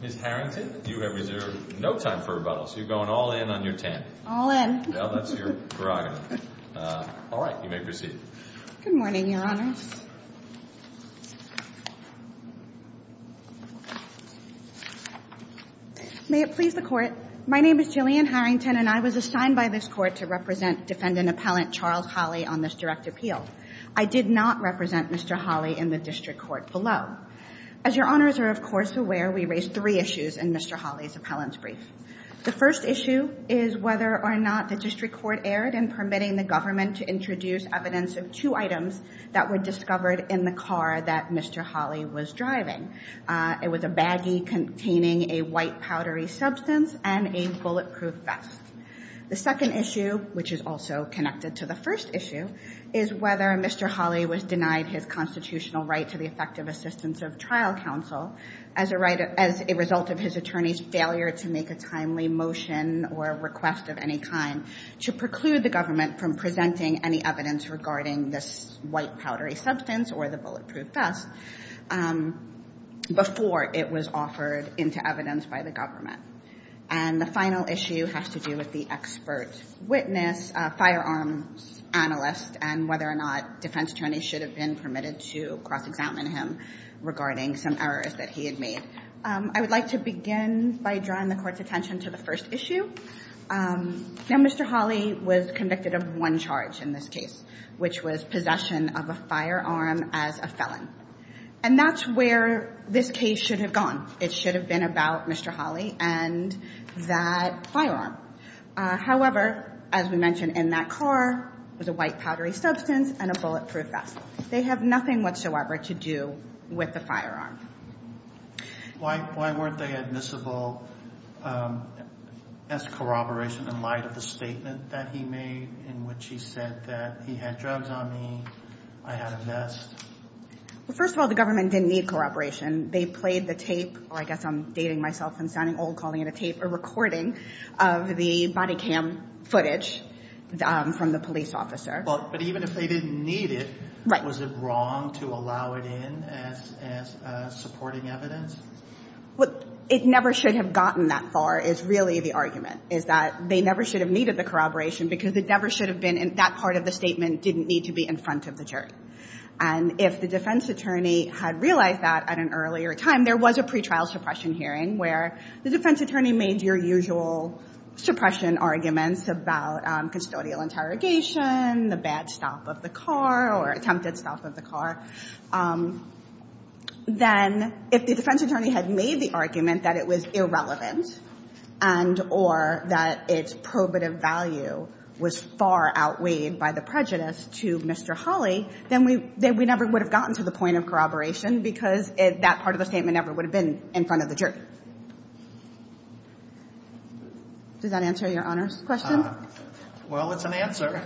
Ms. Harrington, you have reserved no time for rebuttal, so you're going all-in on your ten. All-in. Well, that's your prerogative. All right. You may proceed. Good morning, Your Honors. May it please the Court, my name is Jillian Harrington, and I was assigned by this Court to represent Defendant Appellant Charles Holley on this direct appeal. I did not represent Mr. Holley in the district court below. As Your Honors are, of course, aware, we raised three issues in Mr. Holley's appellant's brief. The first issue is whether or not the district court erred in permitting the government to introduce evidence of two items that were discovered in the car that Mr. Holley was driving. It was a baggie containing a white powdery substance and a bulletproof vest. The second issue, which is also connected to the first issue, is whether Mr. Holley was denied his constitutional right to the effective assistance of trial counsel as a result of his attorney's failure to make a timely motion or request of any kind to preclude the government from presenting any evidence regarding this white powdery substance or the bulletproof vest before it was offered into evidence by the government. And the final issue has to do with the expert witness, firearms analyst, and whether or not defense attorneys should have been permitted to cross-examine him regarding some errors that he had made. I would like to begin by drawing the Court's attention to the first issue. Now, Mr. Holley was convicted of one charge in this case, which was possession of a firearm as a felon. And that's where this case should have gone. It should have been about Mr. Holley and that firearm. However, as we mentioned, in that car was a white powdery substance and a bulletproof vest. They have nothing whatsoever to do with the firearm. Why weren't they admissible as corroboration in light of the statement that he made in which he said that he had drugs on me, I had a vest? Well, first of all, the government didn't need corroboration. They played the tape, or I guess I'm dating myself and sounding old calling it a tape, a recording of the body cam footage from the police officer. But even if they didn't need it, was it wrong to allow it in as supporting evidence? Well, it never should have gotten that far is really the argument, is that they never should have needed the corroboration because it never should have been in that part of the statement didn't need to be in front of the jury. And if the defense attorney had realized that at an earlier time, there was a pretrial suppression hearing where the defense attorney made your usual suppression arguments about custodial interrogation, the bad stop of the car or attempted stop of the car, then if the defense attorney had made the argument that it was irrelevant and or that its probative value was far outweighed by the prejudice to Mr. Hawley, then we never would have gotten to the point of corroboration because that part of the statement never would have been in front of the jury. Does that answer your honors question? Well, it's an answer.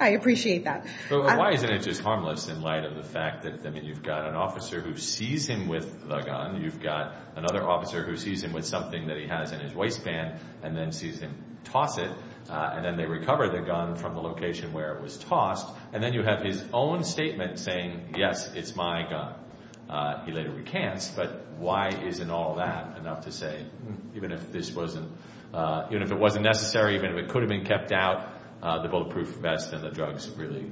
I appreciate that. Why isn't it just harmless in light of the fact that you've got an officer who sees him with the gun, you've got another officer who sees him with something that he has in his waistband and then sees him toss it and then they recover the gun from the location where it was tossed and then you have his own statement saying, yes, it's my gun. He later recants, but why isn't all that enough to say even if this wasn't, even if it wasn't necessary, even if it could have been kept out, the bulletproof vest and the drugs really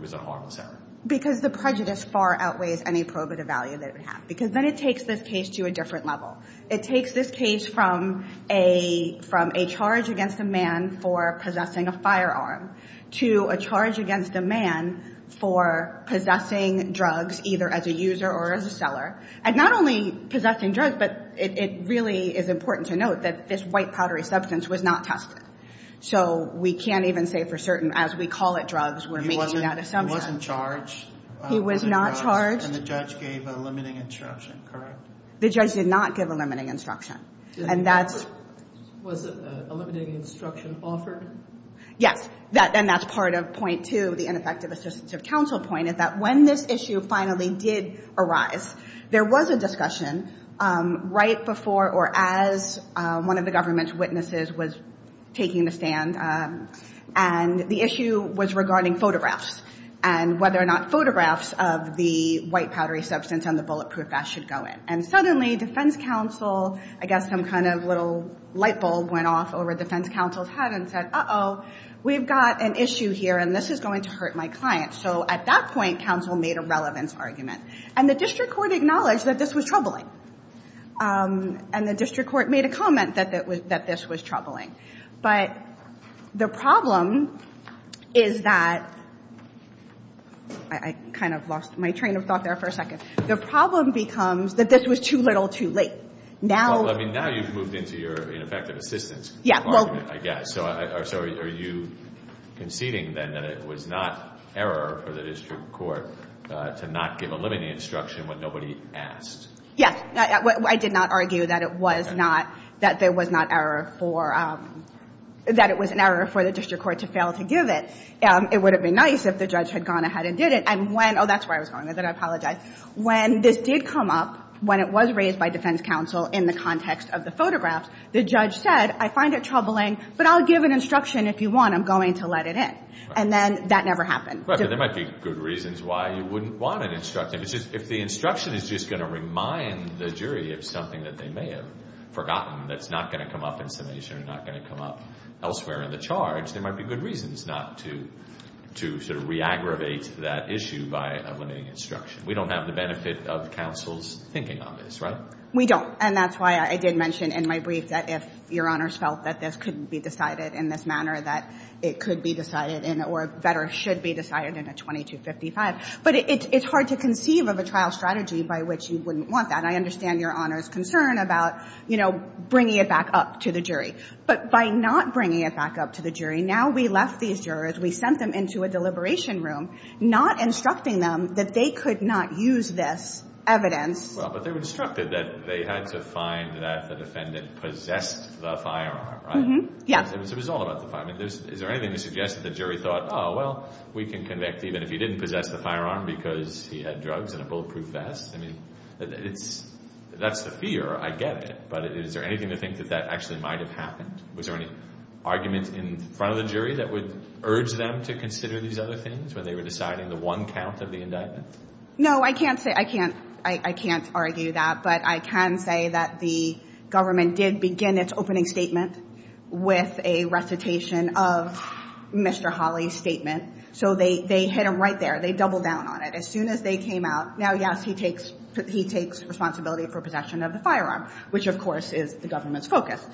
was a harmless act? Because the prejudice far outweighs any probative value that it would have. Because then it takes this case to a different level. It takes this case from a charge against a man for possessing a firearm to a charge against a man for possessing drugs either as a user or as a seller. And not only possessing drugs, but it really is important to note that this white powdery substance was not tested. So we can't even say for certain as we call it drugs, we're making that assumption. He wasn't charged for the drugs. He was not charged. And the judge gave a limiting instruction, correct? The judge did not give a limiting instruction. Was a limiting instruction offered? Yes. And that's part of point two, the ineffective assistance of counsel point is that when this issue finally did arise, there was a discussion right before or as one of the government's witnesses was taking the stand. And the issue was regarding photographs and whether or not photographs of the white powdery substance and the bulletproof vest should go in. And suddenly defense counsel, I guess some kind of little light bulb went off over the defense counsel's head and said, uh-oh, we've got an issue here and this is going to hurt my client. So at that point, counsel made a relevance argument. And the district court acknowledged that this was troubling. And the district court made a comment that this was troubling. But the problem is that I kind of lost my train of thought there for a second. The problem becomes that this was too little too late. Now you've moved into your ineffective assistance. Yeah. I guess. So are you conceding then that it was not error for the district court to not give a limiting instruction when nobody asked? Yes. I did not argue that it was not, that there was not error for, that it was an error for the district court to fail to give it. It would have been nice if the judge had gone ahead and did it. And when, oh, that's where I was going with it. I apologize. When this did come up, when it was raised by defense counsel in the context of the photographs, the judge said, I find it troubling, but I'll give an instruction if you want. I'm going to let it in. And then that never happened. But there might be good reasons why you wouldn't want an instruction. If the instruction is just going to remind the jury of something that they may have forgotten that's not going to come up in summation or not going to come up elsewhere in the charge, there might be good reasons not to sort of re-aggravate that issue by a limiting instruction. We don't have the benefit of counsel's thinking on this, right? We don't. And that's why I did mention in my brief that if Your Honors felt that this couldn't be decided in this manner, that it could be decided in or better should be decided in a 2255. But it's hard to conceive of a trial strategy by which you wouldn't want that. I understand Your Honors' concern about, you know, bringing it back up to the jury. But by not bringing it back up to the jury, now we left these jurors, we sent them into a deliberation room, not instructing them that they could not use this evidence Well, but they were instructed that they had to find that the defendant possessed the firearm, right? Yes. It was all about the firearm. I mean, is there anything to suggest that the jury thought, oh, well, we can convict even if he didn't possess the firearm because he had drugs and a bulletproof vest? I mean, that's the fear. I get it. But is there anything to think that that actually might have happened? Was there any argument in front of the jury that would urge them to consider these other things when they were deciding the one count of the indictment? No, I can't say. I can't argue that. But I can say that the government did begin its opening statement with a recitation of Mr. Hawley's statement. So they hit him right there. They doubled down on it. As soon as they came out, now, yes, he takes responsibility for possession of the firearm, which, of course, is the government's focus.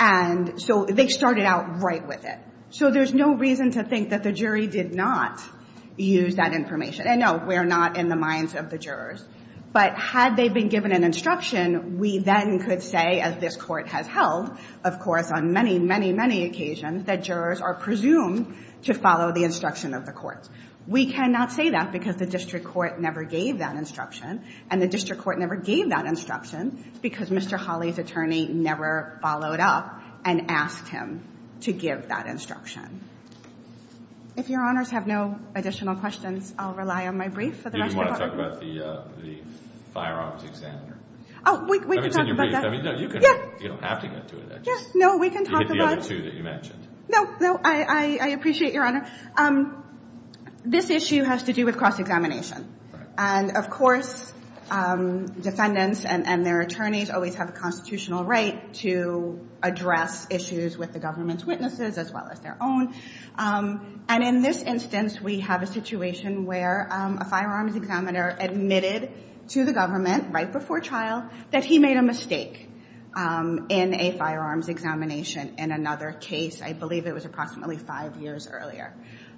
And so they started out right with it. So there's no reason to think that the jury did not use that information. And, no, we're not in the minds of the jurors. But had they been given an instruction, we then could say, as this Court has held, of course, on many, many, many occasions, that jurors are presumed to follow the instruction of the courts. We cannot say that because the district court never gave that instruction. And the district court never gave that instruction because Mr. Hawley's attorney never followed up and asked him to give that instruction. If Your Honors have no additional questions, I'll rely on my brief for the rest of the You didn't want to talk about the firearms examiner? Oh, we can talk about that. I mean, it's in your brief. I mean, no, you can have to get to it. Yeah, no, we can talk about it. You get the other two that you mentioned. No, no, I appreciate, Your Honor. This issue has to do with cross-examination. And, of course, defendants and their attorneys always have a constitutional right to address issues with the government's witnesses as well as their own. And in this instance, we have a situation where a firearms examiner admitted to the government right before trial that he made a mistake in a firearms examination in another case. I believe it was approximately five years earlier.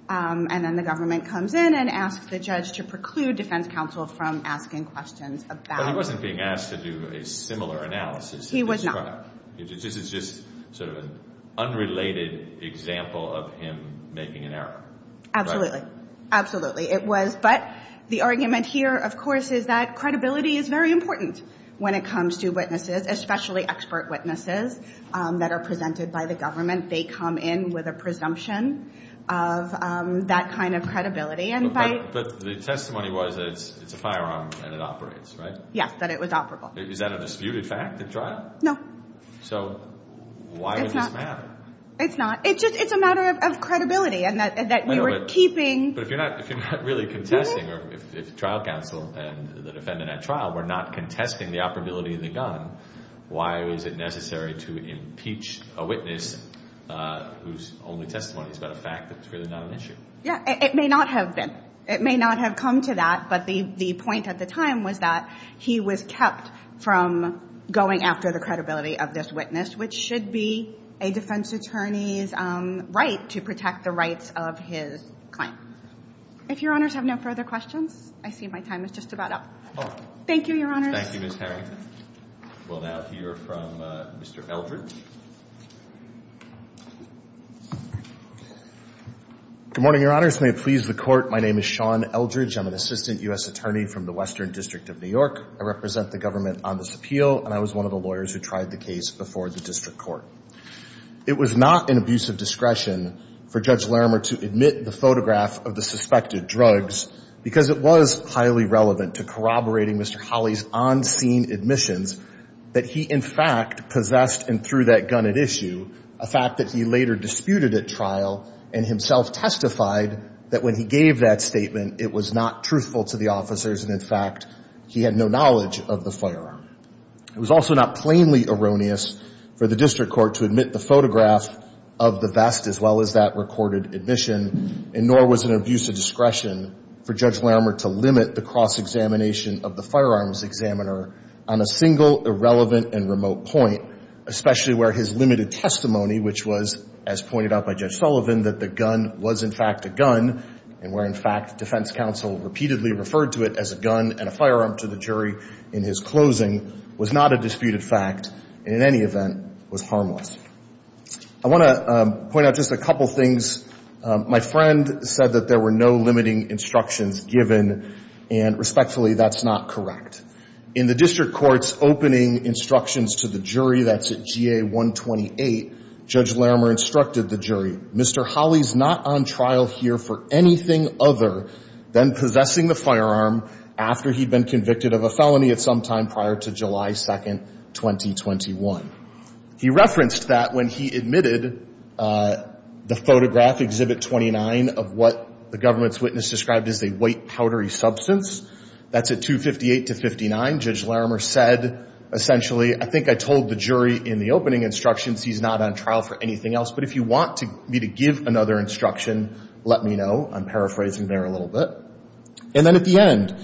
And then the government comes in and asks the judge to preclude defense counsel from asking questions about it. But he wasn't being asked to do a similar analysis. He was not. This is just sort of an unrelated example of him making an error. Absolutely. Absolutely. It was. But the argument here, of course, is that credibility is very important when it comes to witnesses, especially expert witnesses that are presented by the government. They come in with a presumption of that kind of credibility. But the testimony was that it's a firearm and it operates, right? Yes, that it was operable. Is that a disputed fact at trial? No. So why would this matter? It's not. It's a matter of credibility and that you were keeping. But if you're not really contesting or if trial counsel and the defendant at trial were not contesting the operability of the gun, why was it necessary to impeach a witness whose only testimony is about a fact that it's really not an issue? Yeah. It may not have been. It may not have come to that, but the point at the time was that he was kept from going after the credibility of this witness, which should be a defense attorney's right to protect the rights of his client. If Your Honors have no further questions, I see my time is just about up. Thank you, Your Honors. Thank you, Ms. Harrington. We'll now hear from Mr. Eldridge. Good morning, Your Honors. May it please the Court, my name is Sean Eldridge. I'm an assistant U.S. attorney from the Western District of New York. I represent the government on this appeal, and I was one of the lawyers who tried the case before the district court. It was not an abuse of discretion for Judge Larimer to admit the photograph of the suspected drugs because it was highly relevant to corroborating Mr. Holley's on-scene admissions that he, in fact, possessed and threw that gun at issue, a fact that he later disputed at trial and himself testified that when he gave that statement, it was not truthful to the officers and, in fact, he had no knowledge of the firearm. It was also not plainly erroneous for the district court to admit the photograph of the vest as well as that recorded admission, and nor was it an abuse of discretion for Judge Larimer to limit the cross-examination of the firearms examiner on a single irrelevant and remote point, especially where his limited testimony, which was, as pointed out by Judge Sullivan, that the gun was, in fact, a gun and where, in fact, defense counsel repeatedly referred to it as a gun and a firearm to the jury in his closing, was not a disputed fact and, in any event, was harmless. I want to point out just a couple things. My friend said that there were no limiting instructions given and, respectfully, that's not correct. In the district court's opening instructions to the jury, that's at GA-128, Judge Larimer instructed the jury, Mr. Holley's not on trial here for anything other than possessing the firearm after he'd been convicted of a felony at some time prior to July 2, 2021. He referenced that when he admitted the photograph, Exhibit 29, of what the government's witness described as a white, powdery substance. That's at 258-59. Judge Larimer said, essentially, I think I told the jury in the opening instructions he's not on trial for anything else, but if you want me to give another instruction, let me know. I'm paraphrasing there a little bit. And then at the end,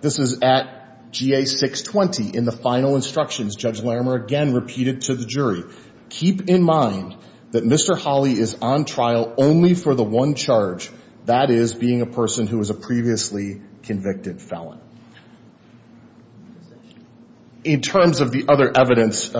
this is at GA-620. In the final instructions, Judge Larimer again repeated to the jury, keep in mind that Mr. Holley is on trial only for the one charge, that is, being a person who was a previously convicted felon. In terms of the other evidence,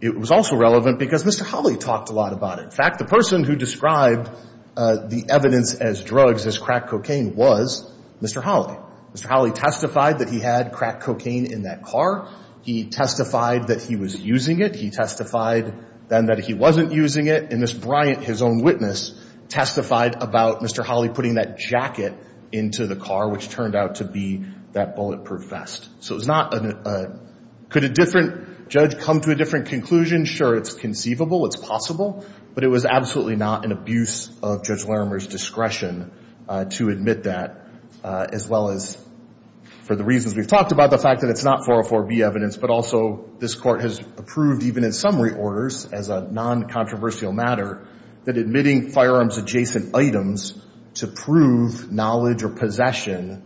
it was also relevant because Mr. Holley talked a lot about it. In fact, the person who described the evidence as drugs, as crack cocaine, was Mr. Holley. Mr. Holley testified that he had crack cocaine in that car. He testified that he was using it. He testified then that he wasn't using it. And this Bryant, his own witness, testified about Mr. Holley putting that jacket into the car, which turned out to be that bulletproof vest. So it was not a – could a different judge come to a different conclusion? Sure, it's conceivable. It's possible. But it was absolutely not an abuse of Judge Larimer's discretion to admit that, as well as for the reasons we've talked about, the fact that it's not 404B evidence, but also this Court has approved even in summary orders as a non-controversial matter that admitting firearms-adjacent items to prove knowledge or possession,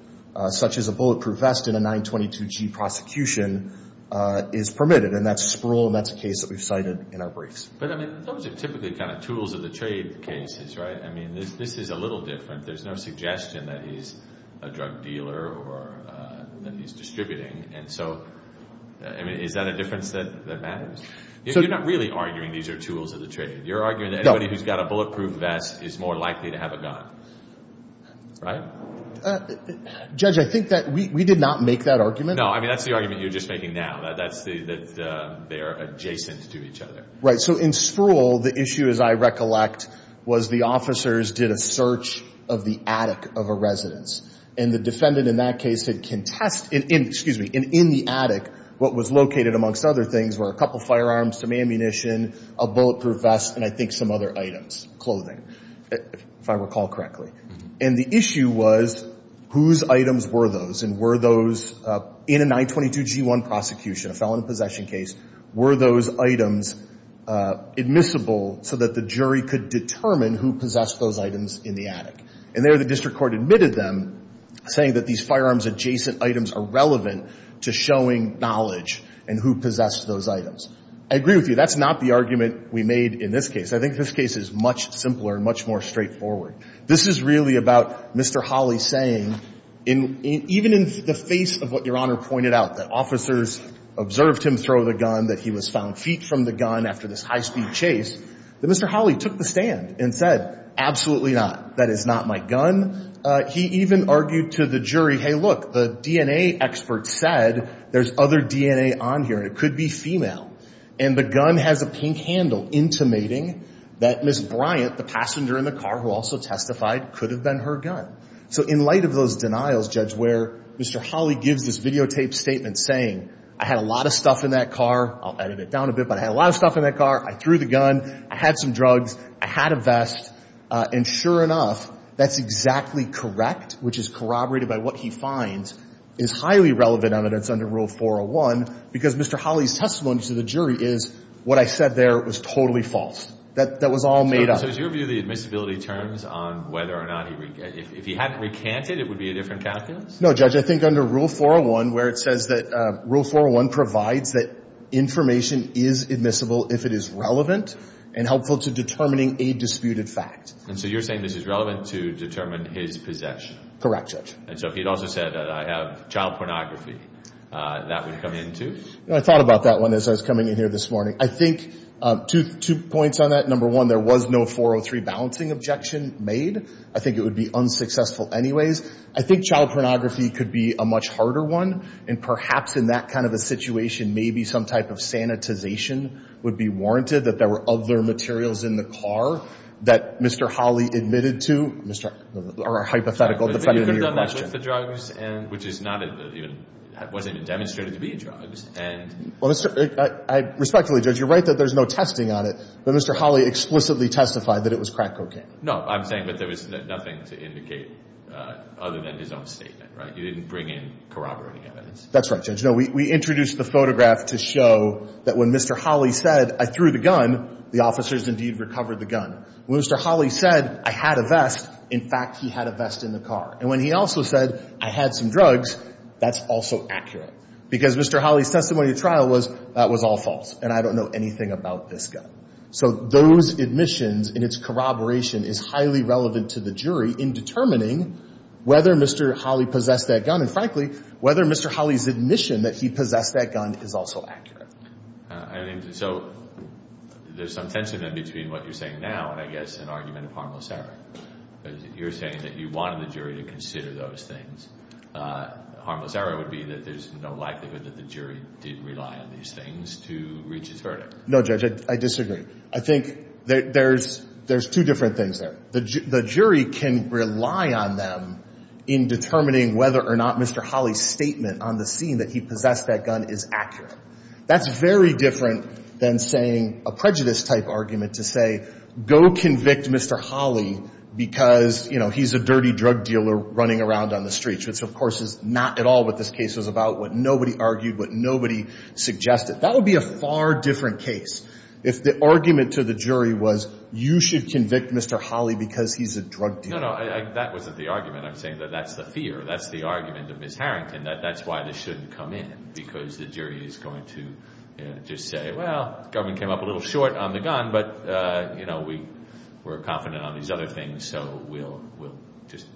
such as a bulletproof vest in a 922G prosecution, is permitted. And that's Sproul, and that's a case that we've cited in our briefs. But, I mean, those are typically kind of tools of the trade cases, right? I mean, this is a little different. There's no suggestion that he's a drug dealer or that he's distributing. And so, I mean, is that a difference that matters? You're not really arguing these are tools of the trade. You're arguing that anybody who's got a bulletproof vest is more likely to have a gun, right? Judge, I think that we did not make that argument. No, I mean, that's the argument you're just making now, that they are adjacent to each other. Right. So in Sproul, the issue, as I recollect, was the officers did a search of the attic of a residence. And the defendant in that case had contested in the attic what was located, amongst other things, were a couple of firearms, some ammunition, a bulletproof vest, and I think some other items, clothing, if I recall correctly. And the issue was whose items were those, and were those in a 922G1 prosecution, a felon in possession case, were those items admissible so that the jury could determine who possessed those items in the attic. And there the district court admitted them, saying that these firearms adjacent items are relevant to showing knowledge and who possessed those items. I agree with you. That's not the argument we made in this case. I think this case is much simpler and much more straightforward. This is really about Mr. Hawley saying, even in the face of what Your Honor pointed out, that officers observed him throw the gun, that he was found feet from the gun after this high-speed chase, that Mr. Hawley took the stand and said, absolutely not. That is not my gun. He even argued to the jury, hey, look, the DNA expert said there's other DNA on here, and it could be female. And the gun has a pink handle intimating that Ms. Bryant, the passenger in the car who also testified, could have been her gun. So in light of those denials, Judge, where Mr. Hawley gives this videotaped statement saying, I had a lot of stuff in that car. I'll edit it down a bit, but I had a lot of stuff in that car. I threw the gun. I had some drugs. I had a vest. And sure enough, that's exactly correct, which is corroborated by what he finds is highly relevant evidence under Rule 401, because Mr. Hawley's testimony to the jury is, what I said there was totally false. That was all made up. So is your view the admissibility terms on whether or not he recanted? If he hadn't recanted, it would be a different calculus? No, Judge. I think under Rule 401, where it says that Rule 401 provides that information is admissible if it is relevant and helpful to determining a disputed fact. And so you're saying this is relevant to determine his possession? Correct, Judge. And so if he had also said that I have child pornography, that would come in too? I thought about that one as I was coming in here this morning. I think two points on that. Number one, there was no 403 balancing objection made. I think it would be unsuccessful anyways. I think child pornography could be a much harder one, and perhaps in that kind of a situation, maybe some type of sanitization would be warranted, that there were other materials in the car that Mr. Hawley admitted to, or hypothetical, depending on your question. But you could have done that with the drugs, which wasn't even demonstrated to be drugs. Respectfully, Judge, you're right that there's no testing on it, but Mr. Hawley explicitly testified that it was crack cocaine. No, I'm saying that there was nothing to indicate other than his own statement, right? He didn't bring in corroborating evidence. That's right, Judge. No, we introduced the photograph to show that when Mr. Hawley said, I threw the gun, the officers indeed recovered the gun. When Mr. Hawley said, I had a vest, in fact, he had a vest in the car. And when he also said, I had some drugs, that's also accurate. Because Mr. Hawley's testimony at trial was, that was all false, and I don't know anything about this gun. So those admissions and its corroboration is highly relevant to the jury in determining whether Mr. Hawley possessed that gun, and frankly, whether Mr. Hawley's admission that he possessed that gun is also accurate. So there's some tension then between what you're saying now and, I guess, an argument of harmless error. You're saying that you wanted the jury to consider those things. Harmless error would be that there's no likelihood that the jury did rely on these things to reach his verdict. No, Judge, I disagree. I think there's two different things there. The jury can rely on them in determining whether or not Mr. Hawley's statement on the scene that he possessed that gun is accurate. That's very different than saying a prejudice-type argument to say, go convict Mr. Hawley because, you know, he's a dirty drug dealer running around on the streets, which, of course, is not at all what this case was about, what nobody argued, what nobody suggested. That would be a far different case if the argument to the jury was, you should convict Mr. Hawley because he's a drug dealer. No, no, that wasn't the argument. I'm saying that that's the fear. That's the argument of Ms. Harrington, that that's why this shouldn't come in, because the jury is going to just say, well, government came up a little short on the gun, but, you know, we're confident on these other things, so we'll just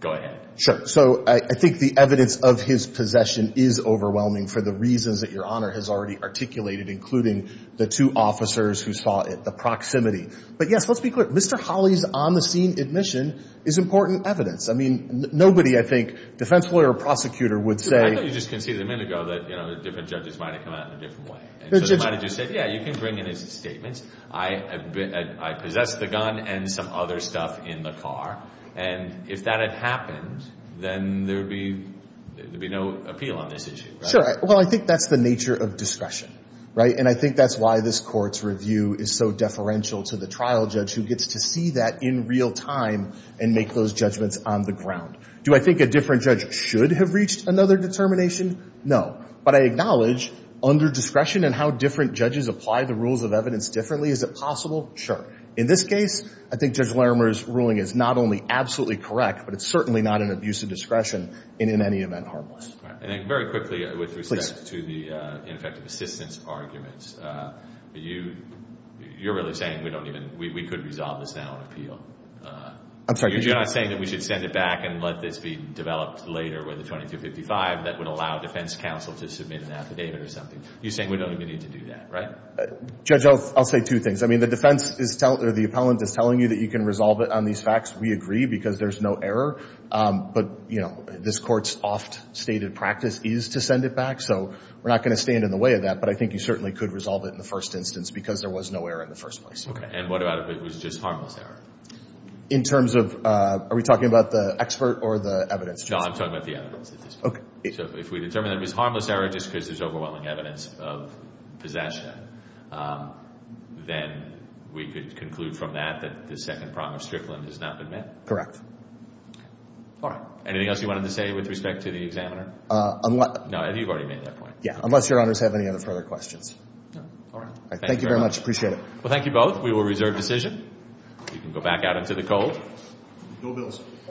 go ahead. Sure. So I think the evidence of his possession is overwhelming for the reasons that Your Honor has already articulated, including the two officers who saw it, the proximity. But, yes, let's be clear. Mr. Hawley's on-the-scene admission is important evidence. I mean, nobody, I think, defense lawyer or prosecutor, would say — I thought you just conceded a minute ago that, you know, different judges might have come out in a different way. So they might have just said, yeah, you can bring in his statements. I possess the gun and some other stuff in the car. And if that had happened, then there would be no appeal on this issue. Sure. Well, I think that's the nature of discretion, right? And I think that's why this Court's review is so deferential to the trial judge, who gets to see that in real time and make those judgments on the ground. Do I think a different judge should have reached another determination? No. But I acknowledge, under discretion and how different judges apply the rules of evidence differently, is it possible? Sure. In this case, I think Judge Larimer's ruling is not only absolutely correct, but it's certainly not an abuse of discretion and, in any event, harmless. And very quickly, with respect to the ineffective assistance arguments, you're really saying we don't even – we could resolve this now on appeal. I'm sorry? You're not saying that we should send it back and let this be developed later with a 2255 that would allow defense counsel to submit an affidavit or something. You're saying we don't even need to do that, right? Judge, I'll say two things. I mean, the defense is – or the appellant is telling you that you can resolve it on these facts. We agree because there's no error. But, you know, this Court's oft-stated practice is to send it back. So we're not going to stand in the way of that, but I think you certainly could resolve it in the first instance because there was no error in the first place. And what about if it was just harmless error? In terms of – are we talking about the expert or the evidence? No, I'm talking about the evidence at this point. Okay. So if we determine that it was harmless error just because there's overwhelming evidence of possession, then we could conclude from that that the second promise strickland has not been met? Correct. All right. Anything else you wanted to say with respect to the examiner? No, you've already made that point. Yeah, unless Your Honors have any other further questions. No. All right. Thank you very much. Appreciate it. Well, thank you both. We will reserve decision. You can go back out into the cold. No bills.